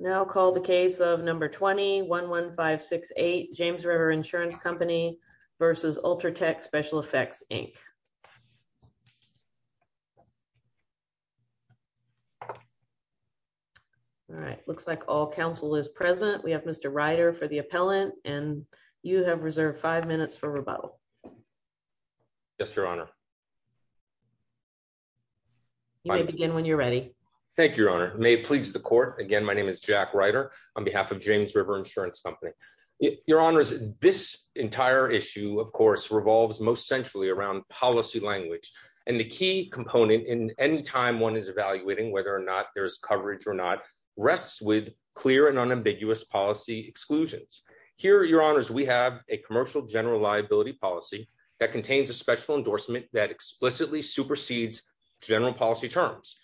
Now call the case of number 211568 James River Insurance Company v. Ultratec Special Effects Inc. Alright looks like all counsel is present. We have Mr. Ryder for the appellant and you have reserved five minutes for rebuttal. Yes your honor may please the court again my name is Jack Ryder on behalf of James River Insurance Company. Your honors this entire issue of course revolves most centrally around policy language and the key component in any time one is evaluating whether or not there's coverage or not rests with clear and unambiguous policy exclusions. Here your honors we have a commercial general liability policy that contains a special endorsement that explicitly supersedes general policy terms.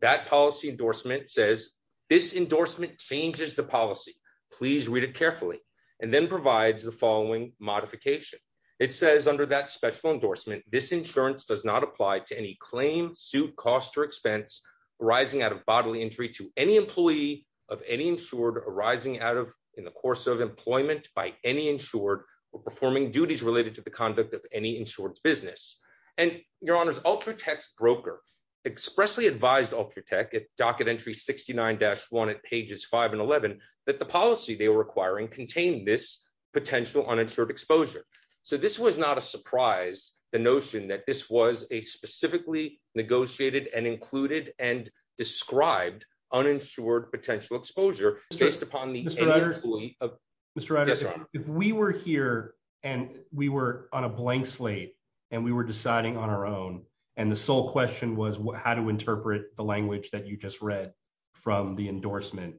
That policy endorsement says this endorsement changes the policy. Please read it carefully and then provides the following modification. It says under that special endorsement this insurance does not apply to any claim, suit, cost, or expense arising out of bodily injury to any employee of any insured arising out of in the course of employment by any insured or performing duties related to the conduct of any insured business. And your honors Ultratech's broker expressly advised Ultratech at docket entry 69-1 at pages 5 and 11 that the policy they were requiring contained this potential uninsured exposure. So this was not a surprise the notion that this was a specifically negotiated and included and described uninsured potential exposure. Mr. Ryder if we were here and we were on a blank slate and we were deciding on our own and the sole question was how to interpret the language that you just read from the endorsement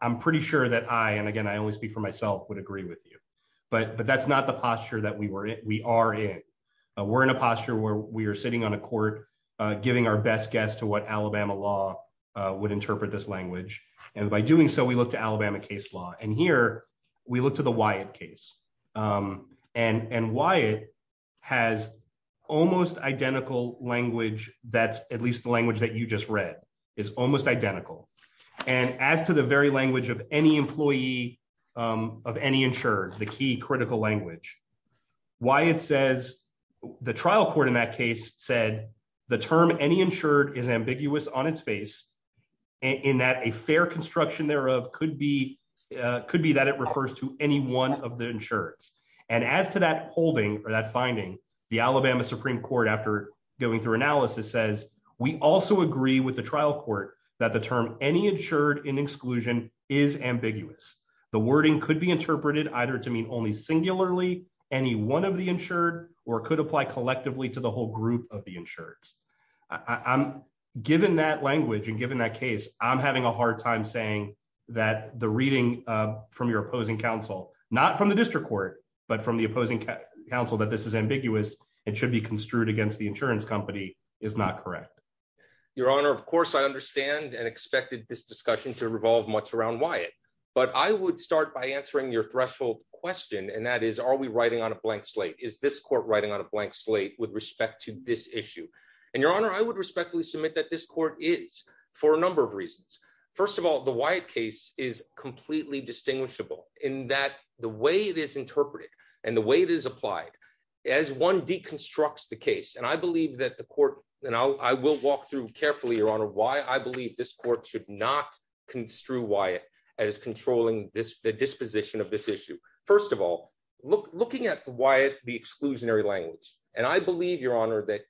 I'm pretty sure that I and again I always speak for myself would agree with you but but that's not the posture that we were it we are in. We're in a posture where we are sitting on a court giving our best guess to what Alabama law would interpret this language and by doing so we look to Alabama case law and here we look to the almost identical language that's at least the language that you just read is almost identical and as to the very language of any employee of any insured the key critical language why it says the trial court in that case said the term any insured is ambiguous on its face in that a fair construction thereof could be could be that it refers to any one of the insureds and as to that holding or that finding the Alabama Supreme Court after going through analysis says we also agree with the trial court that the term any insured in exclusion is ambiguous the wording could be interpreted either to mean only singularly any one of the insured or could apply collectively to the whole group of the insured I'm given that language and given that case I'm having a hard time saying that the reading from your opposing counsel not from the opposing counsel that this is ambiguous it should be construed against the insurance company is not correct your honor of course I understand and expected this discussion to revolve much around Wyatt but I would start by answering your threshold question and that is are we writing on a blank slate is this court writing on a blank slate with respect to this issue and your honor I would respectfully submit that this court is for a number of reasons first of all the white case is completely distinguishable in that the way it is interpreted and the way it is applied as one deconstructs the case and I believe that the court and I will walk through carefully your honor why I believe this court should not construe Wyatt as controlling this the disposition of this issue first of all look looking at Wyatt the exclusionary language and I believe your honor that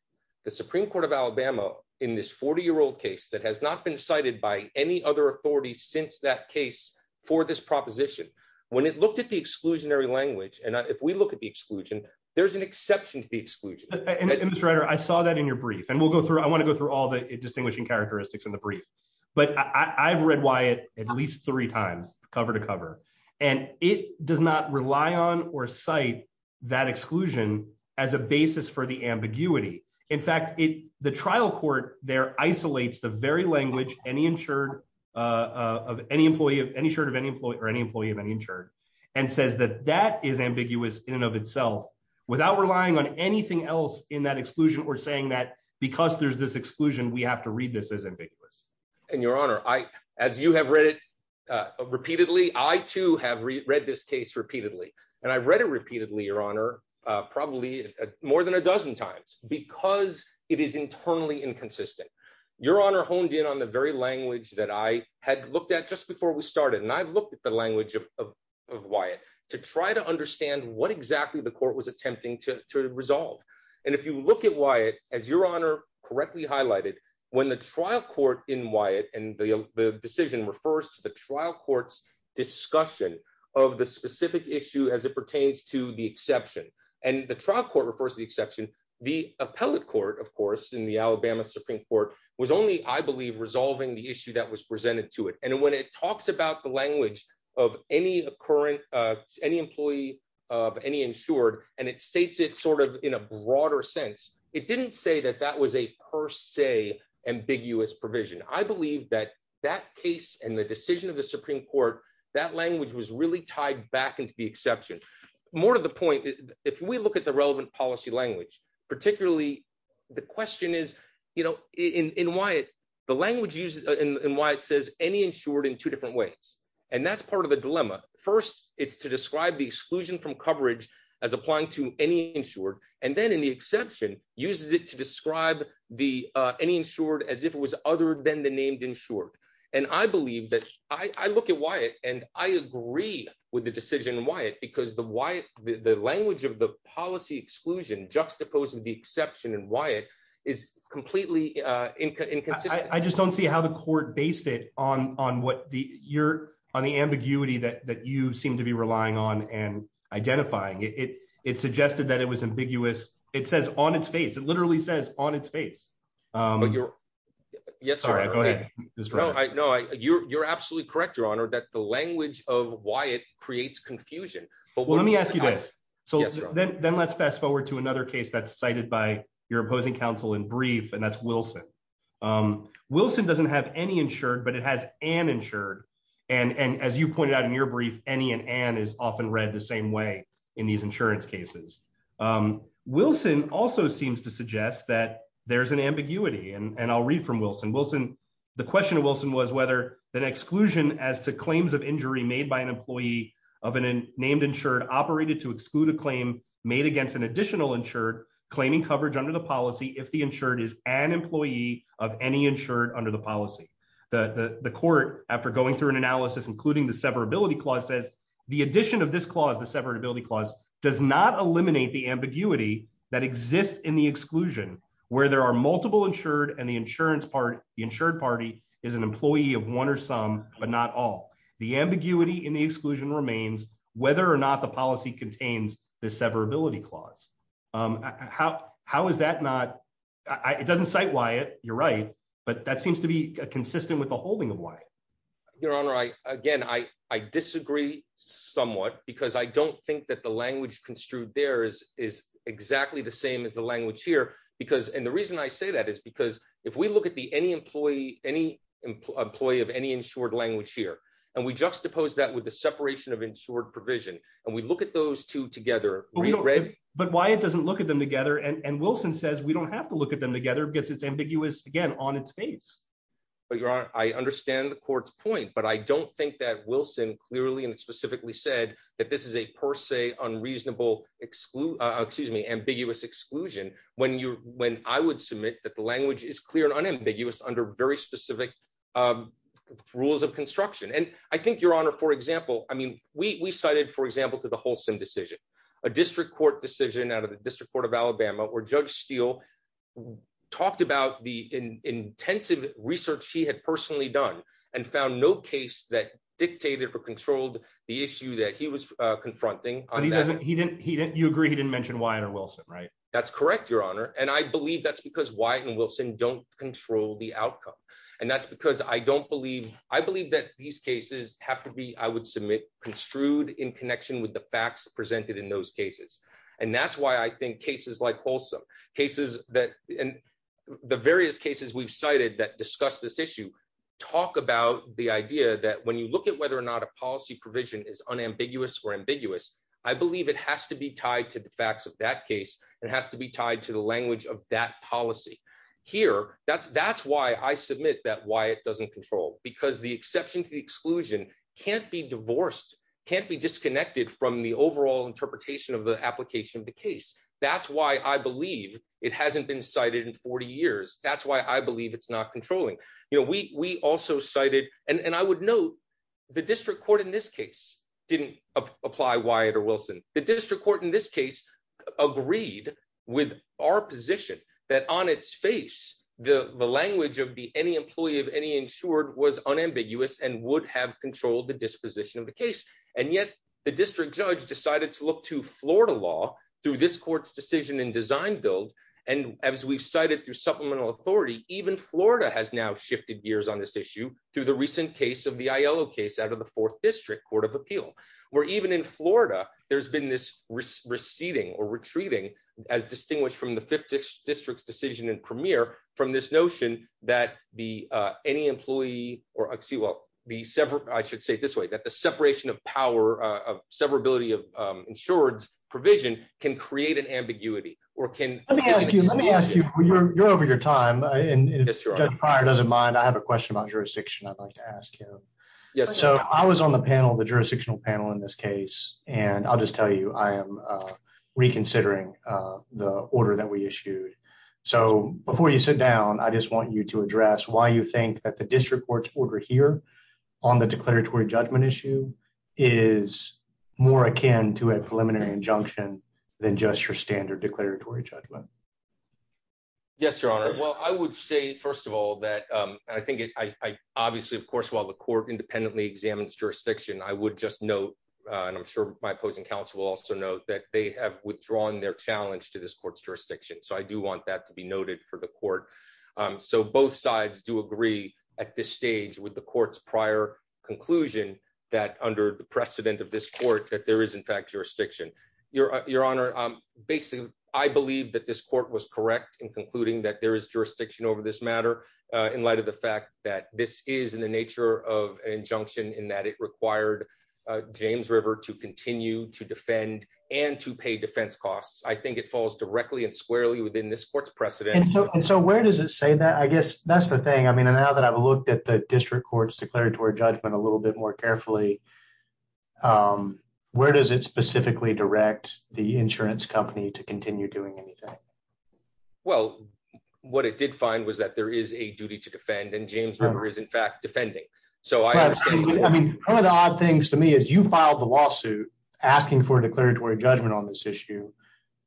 the Supreme Court of Alabama in this 40 year old case that has not been cited by any other authority since that case for this proposition when it looked at the exclusionary language and if we look at the exclusion there's an exception to the exclusion and this writer I saw that in your brief and we'll go through I want to go through all the distinguishing characteristics in the brief but I've read Wyatt at least three times cover to cover and it does not rely on or cite that exclusion as a basis for the ambiguity in fact it the trial court there isolates the very language any insured of any employee of any shirt of any employee or any employee of any insured and says that that is ambiguous in and of itself without relying on anything else in that exclusion or saying that because there's this exclusion we have to read this as ambiguous and your honor I as you have read it repeatedly I too have read this case repeatedly and I've read it repeatedly your honor probably more than a dozen times because it is the very language that I had looked at just before we started and I've looked at the language of Wyatt to try to understand what exactly the court was attempting to resolve and if you look at Wyatt as your honor correctly highlighted when the trial court in Wyatt and the decision refers to the trial courts discussion of the specific issue as it pertains to the exception and the trial court refers the exception the appellate court of course in the the issue that was presented to it and when it talks about the language of any occurrence any employee of any insured and it states it sort of in a broader sense it didn't say that that was a per se ambiguous provision I believe that that case and the decision of the Supreme Court that language was really tied back into the exception more to the point if we look at the relevant policy language particularly the question is you know in in Wyatt the language used in Wyatt says any insured in two different ways and that's part of a dilemma first it's to describe the exclusion from coverage as applying to any insured and then in the exception uses it to describe the any insured as if it was other than the named insured and I believe that I look at Wyatt and I agree with the decision Wyatt because the Wyatt the language of the policy exclusion juxtaposed with the exception and Wyatt is completely I just don't see how the court based it on on what the you're on the ambiguity that that you seem to be relying on and identifying it it suggested that it was ambiguous it says on its face it literally says on its face but you're yes all right go ahead I know you're absolutely correct your honor that the language of why it fast-forward to another case that's cited by your opposing counsel in brief and that's Wilson Wilson doesn't have any insured but it has an insured and and as you pointed out in your brief any and an is often read the same way in these insurance cases Wilson also seems to suggest that there's an ambiguity and and I'll read from Wilson Wilson the question of Wilson was whether that exclusion as to claims of injury made by an employee of an named insured operated to exclude a claim made against an additional insured claiming coverage under the policy if the insured is an employee of any insured under the policy the the court after going through an analysis including the severability clause says the addition of this clause the severability clause does not eliminate the ambiguity that exists in the exclusion where there are multiple insured and the insurance part the insured party is an employee of one or some but not all the ambiguity in the exclusion remains whether or not the policy contains the severability clause how how is that not I it doesn't cite why it you're right but that seems to be consistent with the holding of why your honor I again I I disagree somewhat because I don't think that the language construed there is is exactly the same as the language here because and the reason I say that is because if we look at the any employee any employee of any insured language here and we juxtapose that with the separation of insured provision and we look at those two together we don't read but why it doesn't look at them together and and Wilson says we don't have to look at them together because it's ambiguous again on its face but your honor I understand the court's point but I don't think that Wilson clearly and specifically said that this is a per se unreasonable exclude excuse me ambiguous exclusion when you when I would submit that the language is clear and unambiguous under very specific rules of construction and I think your honor for example I mean we cited for example to the wholesome decision a district court decision out of the District Court of Alabama where judge Steele talked about the intensive research he had personally done and found no case that dictated or controlled the issue that he was confronting he doesn't he didn't he didn't you agree he didn't mention Wyatt or Wilson right that's correct your honor and I believe that's because Wyatt and Wilson don't control the outcome and that's because I don't believe I believe that these cases have to be I would submit construed in connection with the facts presented in those cases and that's why I think cases like wholesome cases that and the various cases we've cited that discuss this issue talk about the idea that when you look at whether or not a policy provision is unambiguous or ambiguous I believe it has to be tied to the facts of that case it has to be tied to the language of that policy here that's that's why I submit that Wyatt doesn't control because the exception to exclusion can't be divorced can't be disconnected from the overall interpretation of the application of the case that's why I believe it hasn't been cited in 40 years that's why I believe it's not controlling you know we we also cited and and I would note the district court in this case didn't apply Wyatt or Wilson the district court in this case agreed with our position that on its face the the language of be any employee of any insured was unambiguous and would have controlled the disposition of the case and yet the district judge decided to look to Florida law through this court's decision in design build and as we've cited through supplemental authority even Florida has now shifted gears on this issue through the recent case of the ILO case out of the 4th District Court of Appeal where even in Florida there's been this receding or retreating as distinguished from the 50th district's decision in premier from this notion that the any employee or oxy will be severed I should say this way that the separation of power of severability of insureds provision can create an ambiguity or can let me ask you let me ask you you're over your time and prior doesn't mind I have a question about jurisdiction I'd like to ask you yes so I was on the panel the jurisdictional panel in this case and I'll just tell you I am reconsidering the order that we issued so before you sit down I just want you to address why you think that the district courts order here on the declaratory judgment issue is more akin to a preliminary injunction than just your standard declaratory judgment yes your honor well I would say first of all that I think it I obviously of course while the court independently examines jurisdiction I would just note and I'm sure my opposing counsel will also note that they have withdrawn their challenge to this court's court so both sides do agree at this stage with the court's prior conclusion that under the precedent of this court that there is in fact jurisdiction your your honor basically I believe that this court was correct in concluding that there is jurisdiction over this matter in light of the fact that this is in the nature of injunction in that it required James River to continue to defend and to pay defense costs I think it falls directly and squarely within this court's precedent and so where does it say that I guess that's the thing I mean and now that I've looked at the district court's declaratory judgment a little bit more carefully where does it specifically direct the insurance company to continue doing anything well what it did find was that there is a duty to defend and James River is in fact defending so I mean one of the odd things to me is you filed the lawsuit asking for a declaratory judgment on this issue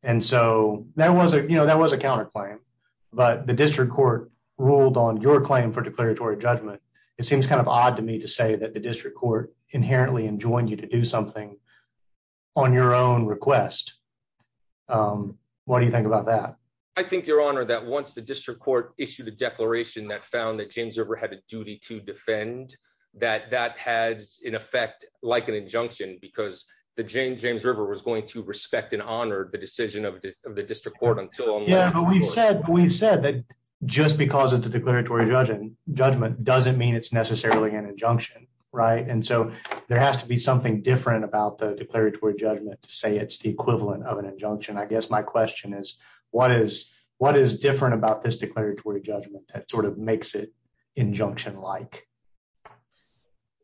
and so there was you know that was a counterclaim but the district court ruled on your claim for declaratory judgment it seems kind of odd to me to say that the district court inherently enjoined you to do something on your own request what do you think about that I think your honor that once the district court issued a declaration that found that James River had a duty to defend that that has in effect like an injunction because the Jane James River was going to respect and honor the decision of the district court until yeah we said we said that just because it's a declaratory judgment judgment doesn't mean it's necessarily an injunction right and so there has to be something different about the declaratory judgment to say it's the equivalent of an injunction I guess my question is what is what is different about this declaratory judgment that sort of makes it injunction like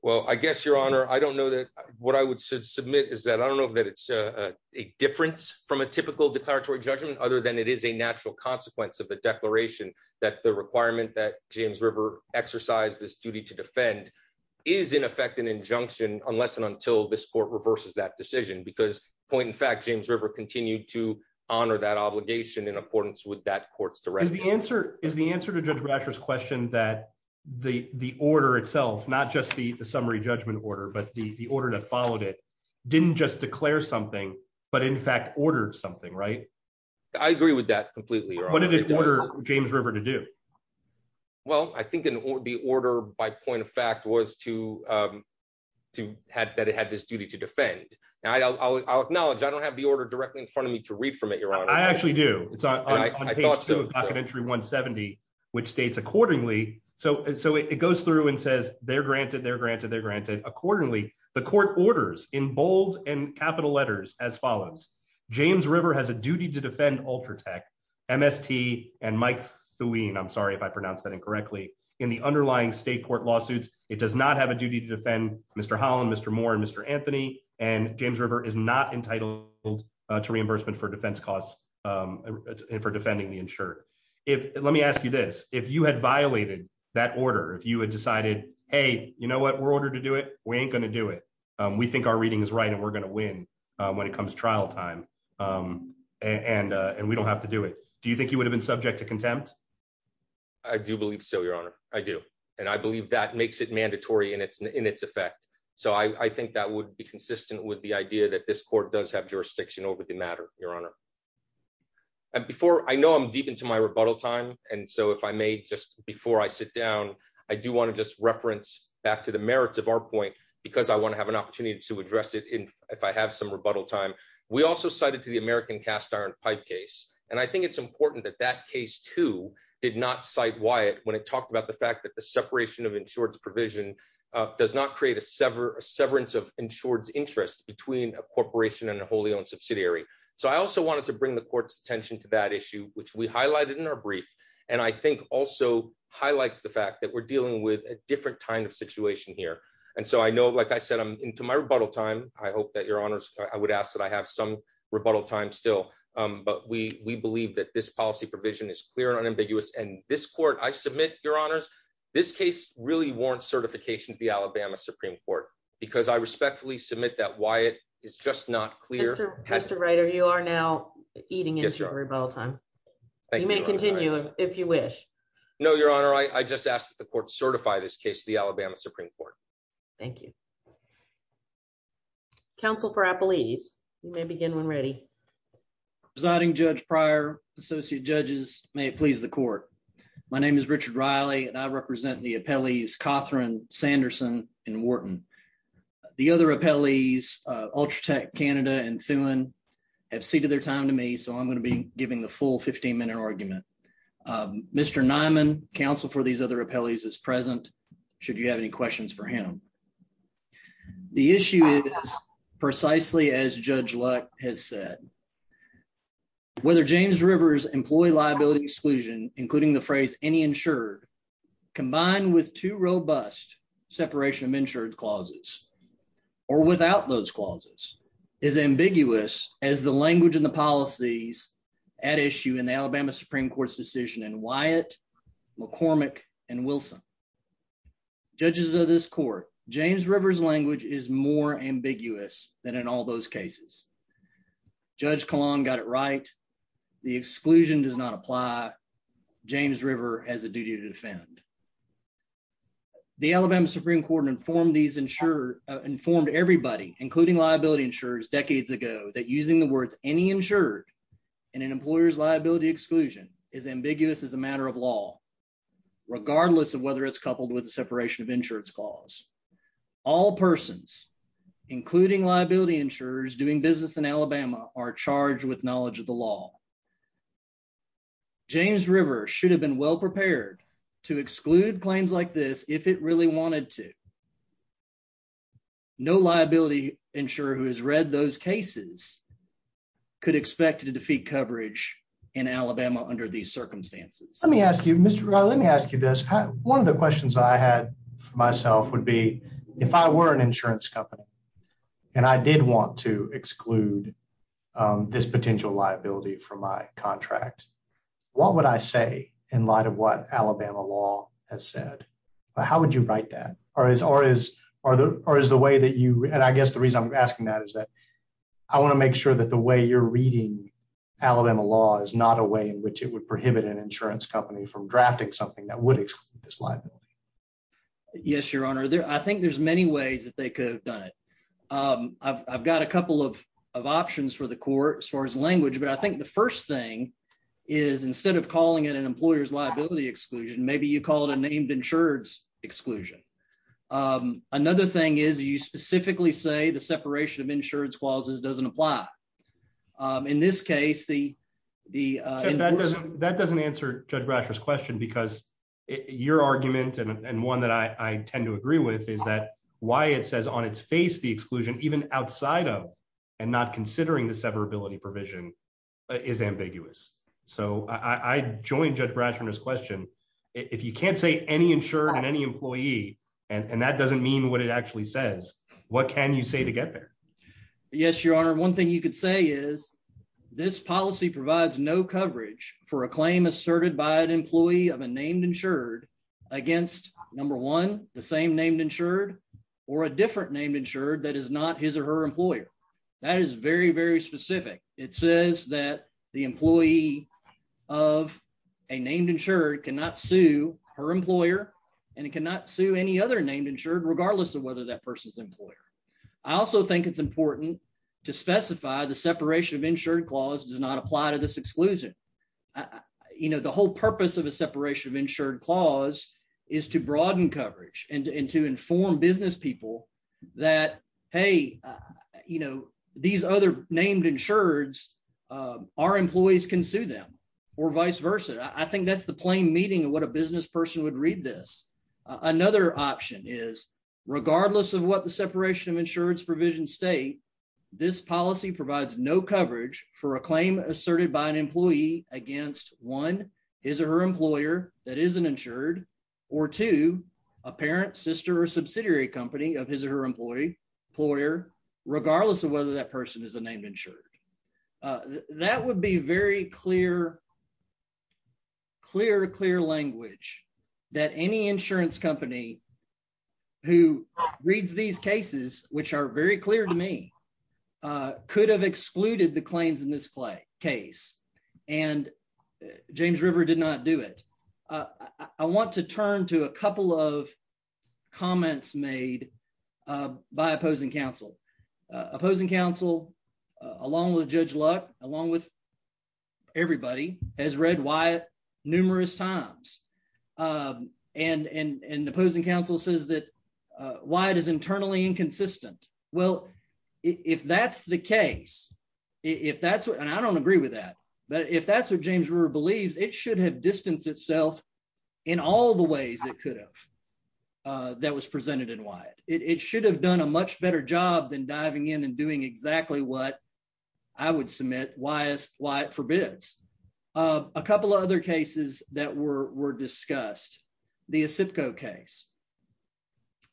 well I guess your honor I don't know that what I would submit is that I don't know that it's a difference from a typical declaratory judgment other than it is a natural consequence of the declaration that the requirement that James River exercised this duty to defend is in effect an injunction unless and until this court reverses that decision because point in fact James River continued to honor that obligation in accordance with that courts the right the answer is the answer to judge Ratcher's question that the the order itself not just the summary judgment order but the order that followed it didn't just declare something but in fact ordered something right I agree with that completely or what did it order James River to do well I think in the order by point of fact was to to have that it had this duty to defend now I'll acknowledge I don't have the order directly in front of me to read from it your honor I actually do it's not an entry 170 which states accordingly so so it goes through and says they're accordingly the court orders in bold and capital letters as follows James River has a duty to defend ultra tech MST and Mike Thune I'm sorry if I pronounce that incorrectly in the underlying state court lawsuits it does not have a duty to defend mr. Holland mr. Moore and mr. Anthony and James River is not entitled to reimbursement for defense costs and for defending the insured if let me ask you this if you had violated that order if you had we ain't gonna do it we think our reading is right and we're gonna win when it comes to trial time and and we don't have to do it do you think you would have been subject to contempt I do believe so your honor I do and I believe that makes it mandatory and it's in its effect so I think that would be consistent with the idea that this court does have jurisdiction over the matter your honor and before I know I'm deep into my rebuttal time and so if I may before I sit down I do want to just reference back to the merits of our point because I want to have an opportunity to address it in if I have some rebuttal time we also cited to the American cast-iron pipe case and I think it's important that that case too did not cite Wyatt when it talked about the fact that the separation of insureds provision does not create a sever severance of insureds interest between a corporation and a wholly owned subsidiary so I also wanted to bring the court's attention to that issue which we so highlights the fact that we're dealing with a different kind of situation here and so I know like I said I'm into my rebuttal time I hope that your honors I would ask that I have some rebuttal time still but we we believe that this policy provision is clear and unambiguous and this court I submit your honors this case really warrants certification to the Alabama Supreme Court because I respectfully submit that Wyatt is just not clear has to writer you are now eating is your rebuttal time you may continue if you wish no your honor I just asked that the court certify this case the Alabama Supreme Court thank you counsel for a police you may begin when ready presiding judge prior associate judges may it please the court my name is Richard Riley and I represent the appellees Cothran Sanderson and Wharton the other appellees Ultra Tech Canada and Thulin have ceded their time to me so I'm going to be giving the full 15-minute argument mr. Nyman counsel for these other appellees is present should you have any questions for him the issue is precisely as judge luck has said whether James Rivers employee liability exclusion including the phrase any insured combined with two robust separation of clauses or without those clauses is ambiguous as the language and the policies at issue in the Alabama Supreme Court's decision and Wyatt McCormick and Wilson judges of this court James Rivers language is more ambiguous than in all those cases judge Kalan got it right the exclusion does not apply James River has a duty to defend the Alabama Supreme Court informed these ensure informed everybody including liability insurers decades ago that using the words any insured and an employer's liability exclusion is ambiguous as a matter of law regardless of whether it's coupled with a separation of insurance clause all persons including liability insurers doing business in Alabama are charged with knowledge of the law James River should have been well prepared to exclude claims like this if it really wanted to no liability insurer who has read those cases could expect to defeat coverage in Alabama under these circumstances let me ask you mr let me ask you this one of the questions I had for myself would be if I were an insurance company and I did want to liability for my contract what would I say in light of what Alabama law has said how would you write that or is or is or the or is the way that you and I guess the reason I'm asking that is that I want to make sure that the way you're reading Alabama law is not a way in which it would prohibit an insurance company from drafting something that would exclude this liability yes your honor there I think there's many ways that they could have done it I've got a language but I think the first thing is instead of calling it an employer's liability exclusion maybe you call it a named insured exclusion another thing is you specifically say the separation of insurance clauses doesn't apply in this case the the that doesn't answer judge russia's question because your argument and one that I tend to agree with is that why it says on its face the exclusion even outside of and not considering the severability provision is ambiguous so I joined judge brass from this question if you can't say any insured and any employee and and that doesn't mean what it actually says what can you say to get there yes your honor one thing you could say is this policy provides no coverage for a claim asserted by an employee of a named insured against number one the same named insured or a different named insured that is not his or her employer that is very very specific it says that the employee of a named insured cannot sue her employer and it cannot sue any other named insured regardless of whether that person's employer I also think it's important to specify the separation of insured clause does not apply to this exclusion you know the whole purpose of a separation of hey you know these other named insureds our employees can sue them or vice versa I think that's the plain meaning of what a business person would read this another option is regardless of what the separation of insureds provision state this policy provides no coverage for a claim asserted by an employee against one is a her employer that isn't insured or to a parent sister a subsidiary company of his or her employee employer regardless of whether that person is a named insured that would be very clear clear clear language that any insurance company who reads these cases which are very clear to me could have excluded the claims in this clay case and James River did not do it I want to turn to a couple of comments made by opposing counsel opposing counsel along with judge luck along with everybody has read why numerous times and and and opposing counsel says that why it is internally inconsistent well if that's the case if that's what and I don't agree with that but if that's what it was presented in why it should have done a much better job than diving in and doing exactly what I would submit why is why it forbids a couple of other cases that were were discussed the ASIPCO case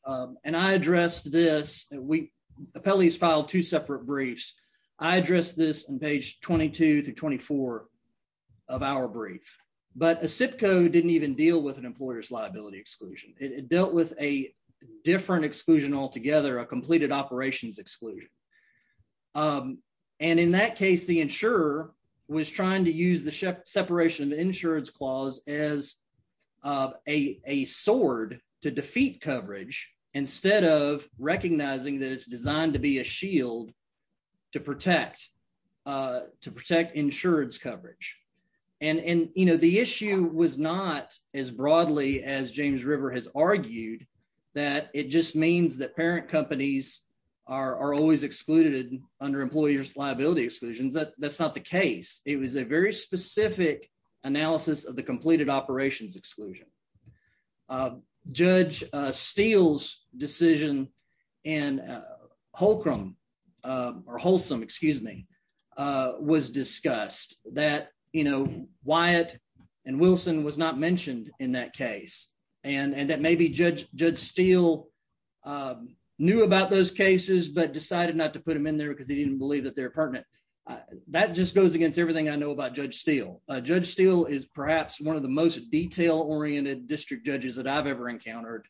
and I addressed this we appellees filed two separate briefs I addressed this on page 22 to 24 of our brief but ASIPCO didn't even deal with an employer's liability exclusion it dealt with a different exclusion altogether a completed operations exclusion and in that case the insurer was trying to use the separation of insurance clause as a sword to defeat coverage instead of recognizing that it's designed to be a shield to protect to protect insurance coverage and and you know the issue was not as broadly as James River has argued that it just means that parent companies are always excluded under employers liability exclusions that that's not the case it was a very specific analysis of the Holcrum or wholesome excuse me was discussed that you know Wyatt and Wilson was not mentioned in that case and and that maybe judge judge Steele knew about those cases but decided not to put him in there because he didn't believe that they're pertinent that just goes against everything I know about judge Steele judge Steele is perhaps one of the most detail-oriented district judges that I've ever encountered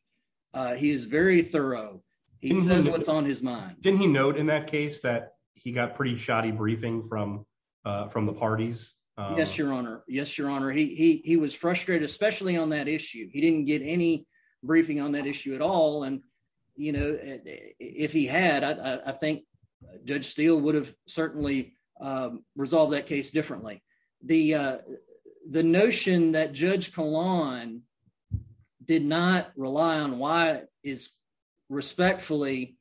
he is very thorough he says what's on his mind didn't he note in that case that he got pretty shoddy briefing from from the parties yes your honor yes your honor he was frustrated especially on that issue he didn't get any briefing on that issue at all and you know if he had I think judge Steele would have certainly resolved that case differently the the that judge Kalan did not rely on why is respectfully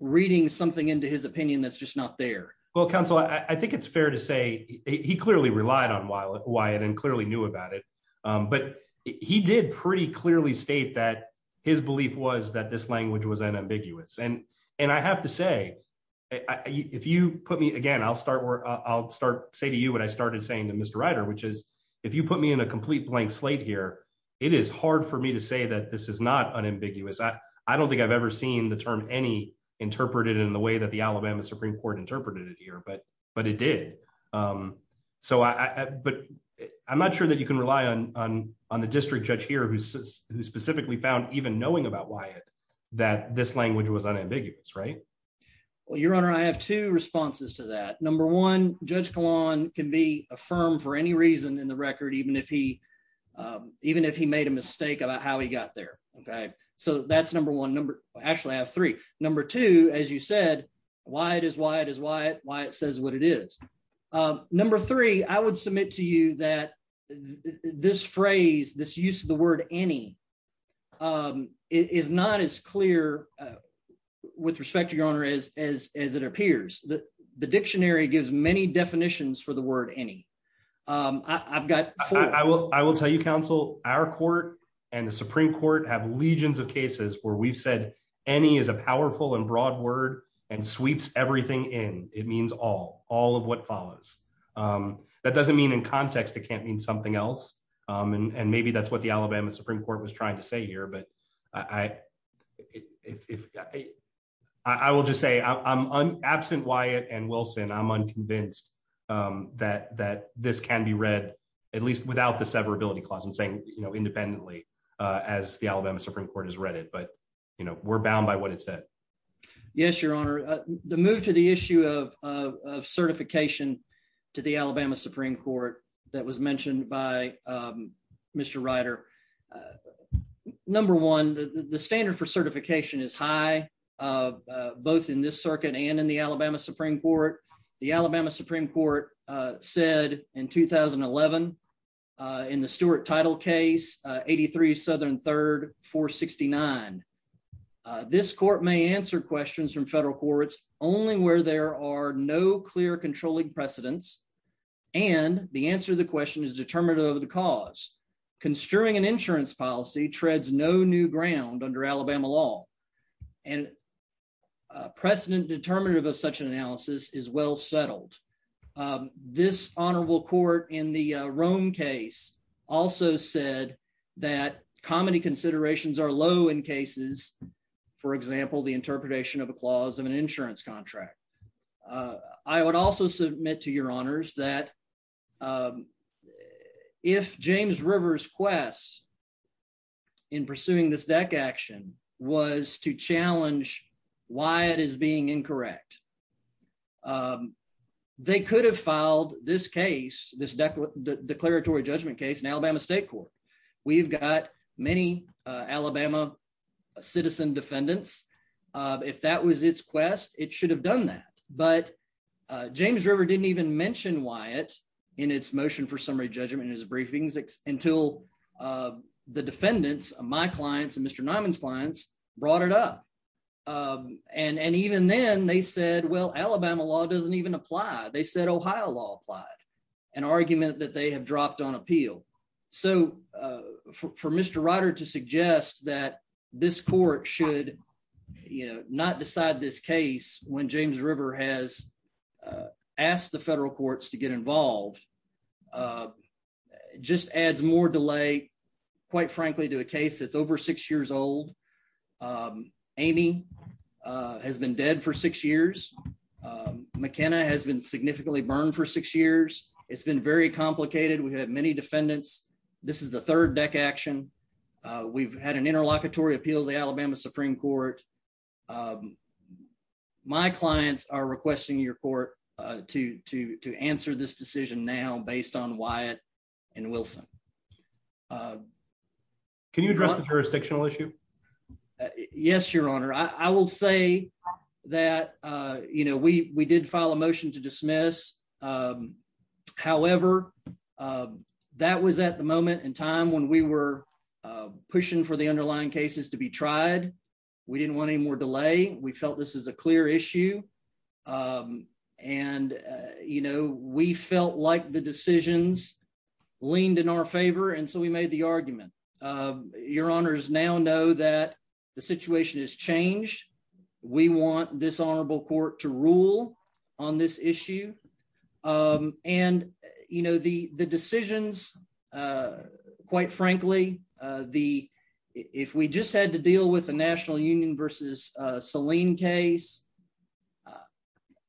reading something into his opinion that's just not there well counsel I think it's fair to say he clearly relied on while Wyatt and clearly knew about it but he did pretty clearly state that his belief was that this language was unambiguous and and I have to say if you put me again I'll start work I'll start say to you what I if you put me in a complete blank slate here it is hard for me to say that this is not unambiguous I I don't think I've ever seen the term any interpreted in the way that the Alabama Supreme Court interpreted it here but but it did so I but I'm not sure that you can rely on on the district judge here who specifically found even knowing about Wyatt that this language was unambiguous right well your honor I have two responses to that number one judge Kalan can be a firm for any reason in the record even if he even if he made a mistake about how he got there okay so that's number one number actually I have three number two as you said Wyatt is Wyatt is Wyatt Wyatt says what it is number three I would submit to you that this phrase this use of the word any is not as clear with respect to your honor as as it appears that the dictionary gives many definitions for the word any I've got I will I will tell you counsel our court and the Supreme Court have legions of cases where we've said any is a powerful and broad word and sweeps everything in it means all all of what follows that doesn't mean in context it can't mean something else and maybe that's what the Alabama Supreme Court was trying to say here but I I will just say I'm absent Wyatt and Wilson I'm unconvinced that that this can be read at least without the severability clause I'm saying you know independently as the Alabama Supreme Court has read it but you know we're bound by what it said yes your honor the move to the issue of certification to the Alabama Supreme Court that was mentioned by mr. Ryder number one the standard for Supreme Court the Alabama Supreme Court said in 2011 in the Stuart title case 83 southern third 469 this court may answer questions from federal courts only where there are no clear controlling precedents and the answer the question is determinative of the cause construing an insurance policy treads no new ground under Alabama law and precedent determinative of such an analysis is well settled this honorable court in the Rome case also said that comedy considerations are low in cases for example the interpretation of a clause of an insurance contract I would also submit to your honors that if James Rivers quest in pursuing this deck action was to challenge why it is being incorrect they could have filed this case this declaratory judgment case in Alabama State Court we've got many Alabama citizen defendants if that was its quest it should have done that but James River didn't even mention Wyatt in its motion for summary judgment in his briefings until the defendants of my clients and mr. Nyman's clients brought it up and and even then they said well Alabama law doesn't even apply they said Ohio law applied an argument that they have dropped on appeal so for mr. Ryder to suggest that this court should you know not decide this case when James River has asked the federal courts to get involved just adds more delay quite frankly to a case that's over six years old Amy has been dead for six years McKenna has been significantly burned for six years it's been very complicated we have many defendants this is the third deck action we've had an interlocutory appeal the Alabama Supreme Court my clients are requesting your court to to to answer this decision now based on Wyatt and Wilson can you address the jurisdictional issue yes your honor I will say that you know we we did file a motion to dismiss however that was at the moment in time when we were pushing for the underlying cases to be tried we felt this is a clear issue and you know we felt like the decisions leaned in our favor and so we made the argument your honors now know that the situation has changed we want this honorable court to rule on this issue and you know the the decisions quite frankly the if we just had to deal with the National Union versus Selene case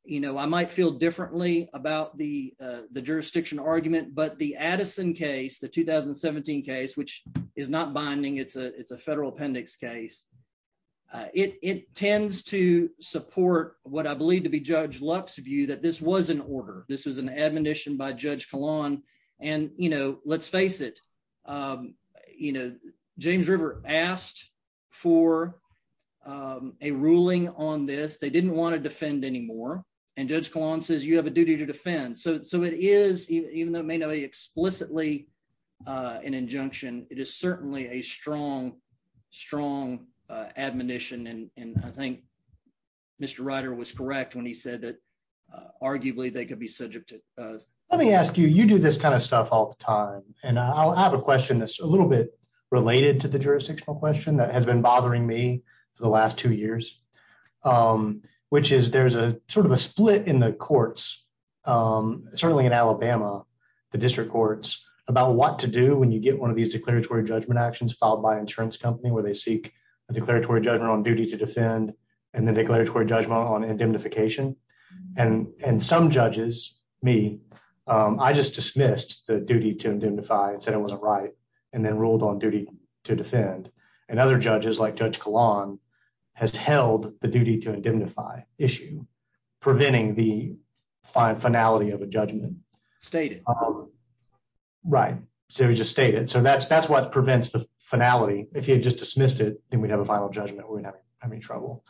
you know I might feel differently about the the jurisdiction argument but the Addison case the 2017 case which is not binding it's a it's a federal appendix case it tends to support what I believe to be Judge Lux view that this was an order this was an admonition by Judge Kahlon and you know let's face it you know James River asked for a ruling on this they didn't want to defend anymore and Judge Kahlon says you have a duty to defend so so it is even though it may not be explicitly an injunction it is certainly a strong strong admonition and I think mr. Ryder was correct when he this kind of stuff all the time and I'll have a question that's a little bit related to the jurisdictional question that has been bothering me for the last two years which is there's a sort of a split in the courts certainly in Alabama the district courts about what to do when you get one of these declaratory judgment actions filed by insurance company where they seek a declaratory judgment on duty to defend and the declaratory judgment on the duty to indemnify and said it wasn't right and then ruled on duty to defend and other judges like Judge Kahlon has held the duty to indemnify issue preventing the fine finality of a judgment state right so he just stated so that's that's what prevents the finality if he had just dismissed it then we'd have a final judgment we're not having trouble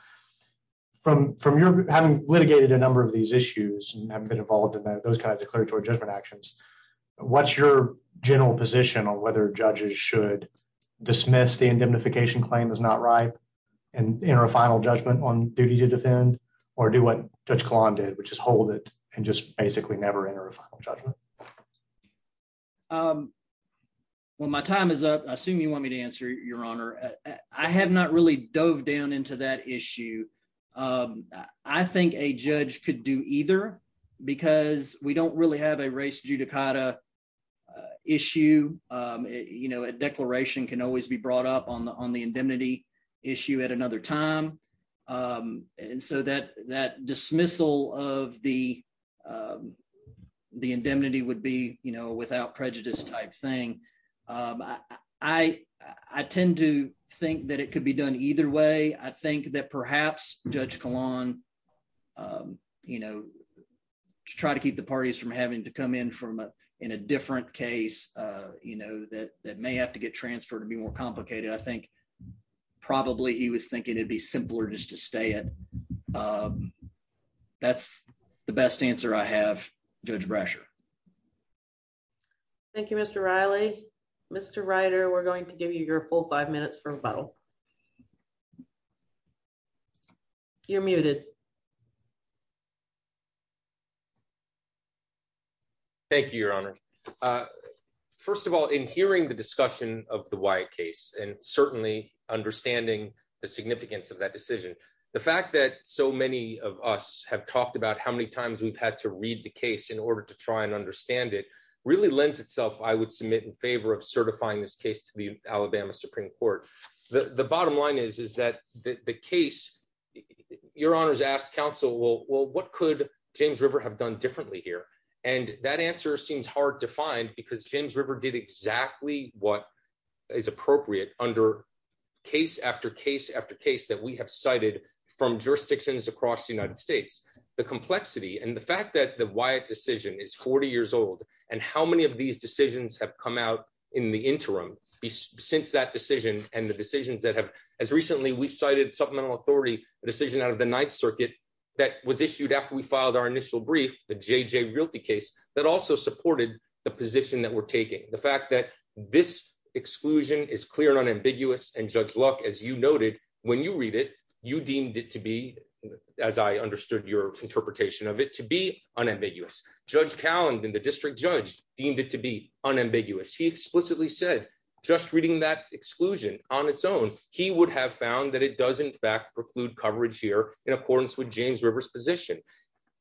from from your having litigated a number of these issues and have been involved in those kind of declaratory judgment actions what's your general position on whether judges should dismiss the indemnification claim is not right and enter a final judgment on duty to defend or do what Judge Kahlon did which is hold it and just basically never enter a final judgment well my time is up I assume you want me to answer your honor I have not really dove down into that issue I think a judge could do either because we don't really have a race judicata issue you know a declaration can always be brought up on the on the indemnity issue at another time and so that that dismissal of the the indemnity would be you know without prejudice type thing I I tend to think that it could be done either way I think that perhaps Judge Kahlon you know try to keep the parties from having to come in from in a different case you know that that may have to get transferred to be more complicated I think probably he was thinking it'd be simpler just to stay it that's the best answer I have judge Brasher Thank You mr. Riley mr. Ryder we're going to give you your full five minutes for a bottle you're muted thank you your honor first of all in hearing the discussion of the white case and certainly understanding the significance of that decision the fact that so many of us have talked about how many times we've had to read the case in order to try and understand it really lends itself I would submit in favor of certifying this case to the Alabama Supreme Court the the bottom line is is that the case your honors asked counsel well well what could James River have done differently here and that answer seems hard to find because James River did exactly what is appropriate under case after case after case that we have cited from jurisdictions across the United States the complexity and the fact that the Wyatt decision is 40 years old and how many of these decisions have come out in the interim since that decision and the decisions that have as recently we cited supplemental authority a decision out of the Ninth Circuit that was issued after we filed our initial brief the JJ realty case that also supported the position that we're taking the fact that this exclusion is clear and unambiguous and judge luck as you noted when you read it you deemed it to be as I understood your interpretation of it to be unambiguous judge Callan in the district judge deemed it to be unambiguous he explicitly said just reading that exclusion on its own he would have found that it does in fact preclude coverage here in accordance with James Rivers position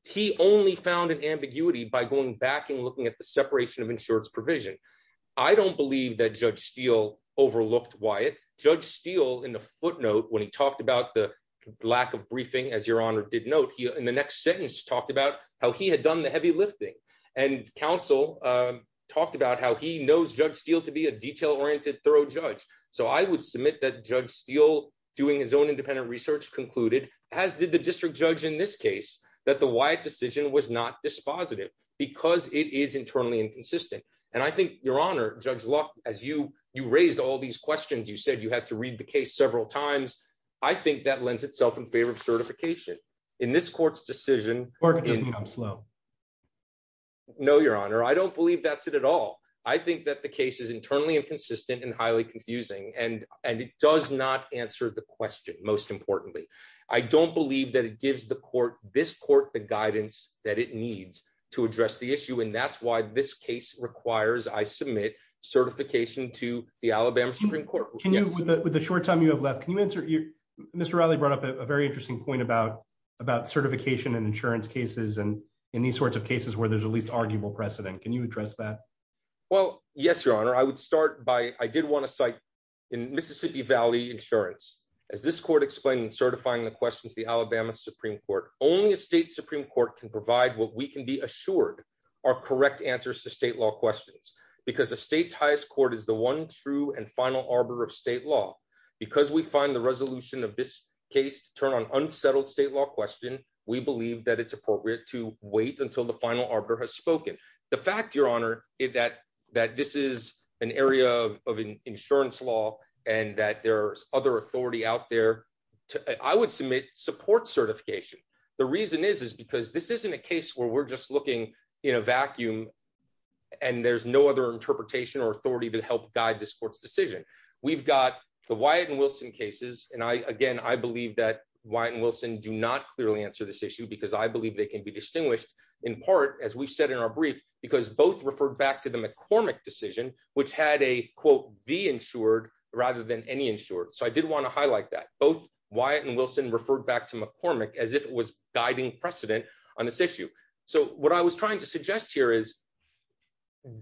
he only found an ambiguity by going back and looking at the separation of insurance provision I don't believe that judge Steele overlooked Wyatt judge Steele in the footnote when he talked about the lack of briefing as your honor did note here in the next sentence talked about how he had done the heavy lifting and counsel talked about how he knows judge Steele to be a detail-oriented thorough judge so I would submit that judge Steele doing his own independent research concluded as did the district judge in this case that the Wyatt decision was not dispositive because it is internally inconsistent and I think your honor judge luck as you you raised all these questions you said you had to read the case several times I think that lends itself in favor of certification in this court's decision or slow no your honor I don't believe that's it at all I think that the case is internally inconsistent and highly confusing and and it does not answer the question most importantly I don't believe that it gives the court this court the guidance that it needs to address the issue and that's why this case requires I submit certification to the Alabama Supreme Court with the short time you have left can you answer your mr. Riley brought up a very interesting point about about certification and insurance cases and in these sorts of cases where there's at least arguable precedent can you address that well yes your honor I would start by I did want to cite in Mississippi Valley insurance as this court explained certifying the questions the Alabama Supreme Court only a state Supreme Court can provide what we can be assured are correct answers to state law questions because the state's highest court is the one true and final arbiter of state law because we find the resolution of this case to turn on unsettled state law question we believe that it's appropriate to wait until the final arbiter has spoken the fact your honor is that that this is an area of insurance law and that there's other authority out there I would submit support certification the reason is is because this isn't a case where we're just looking in a vacuum and there's no other interpretation or authority to help guide this court's decision we've got the Wyatt and Wilson cases and I again I believe that Wyatt and Wilson do not clearly answer this issue because I believe they can be distinguished in part as we've said in our brief because both referred back to the McCormick decision which had a quote be insured rather than any insured so I did want to highlight that both Wyatt and Wilson referred back to McCormick as if it was guiding precedent on this issue so what I was trying to suggest here is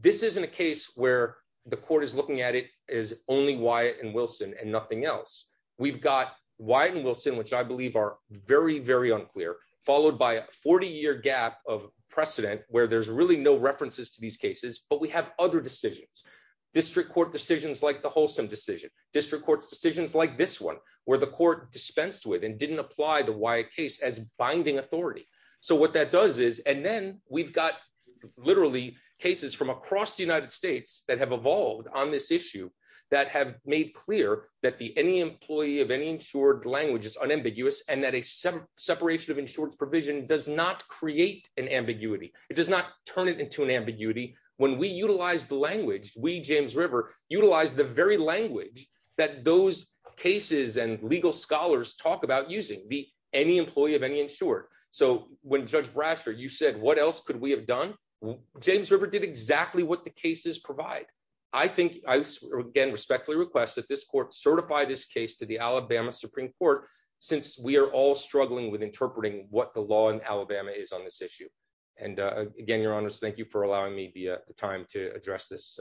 this isn't a case where the court is looking at it is only Wyatt and Wilson and nothing else we've got Wyatt and Wilson which I believe are very very unclear followed by a 40-year gap of precedent where there's really no references to these cases but we have other decisions district court decisions like the wholesome decision district courts decisions like this one where the court dispensed with and didn't apply the Wyatt case as binding authority so what that does is and then we've got literally cases from across the United States that have evolved on this issue that have made clear that the any employee of any insured language is unambiguous and that a separation of insurance provision does not create an ambiguity it does not turn it into an ambiguity when we utilize the language we James River utilize the very language that those cases and legal scholars talk about using the any employee of any insured so when judge Brasher you said what else could we have done James River did exactly what the cases provide I think I again respectfully request that this court certify this case to the Alabama Supreme Court since we are all struggling with interpreting what the law in Alabama is on this issue and again your honors thank you for allowing me the time to address this through you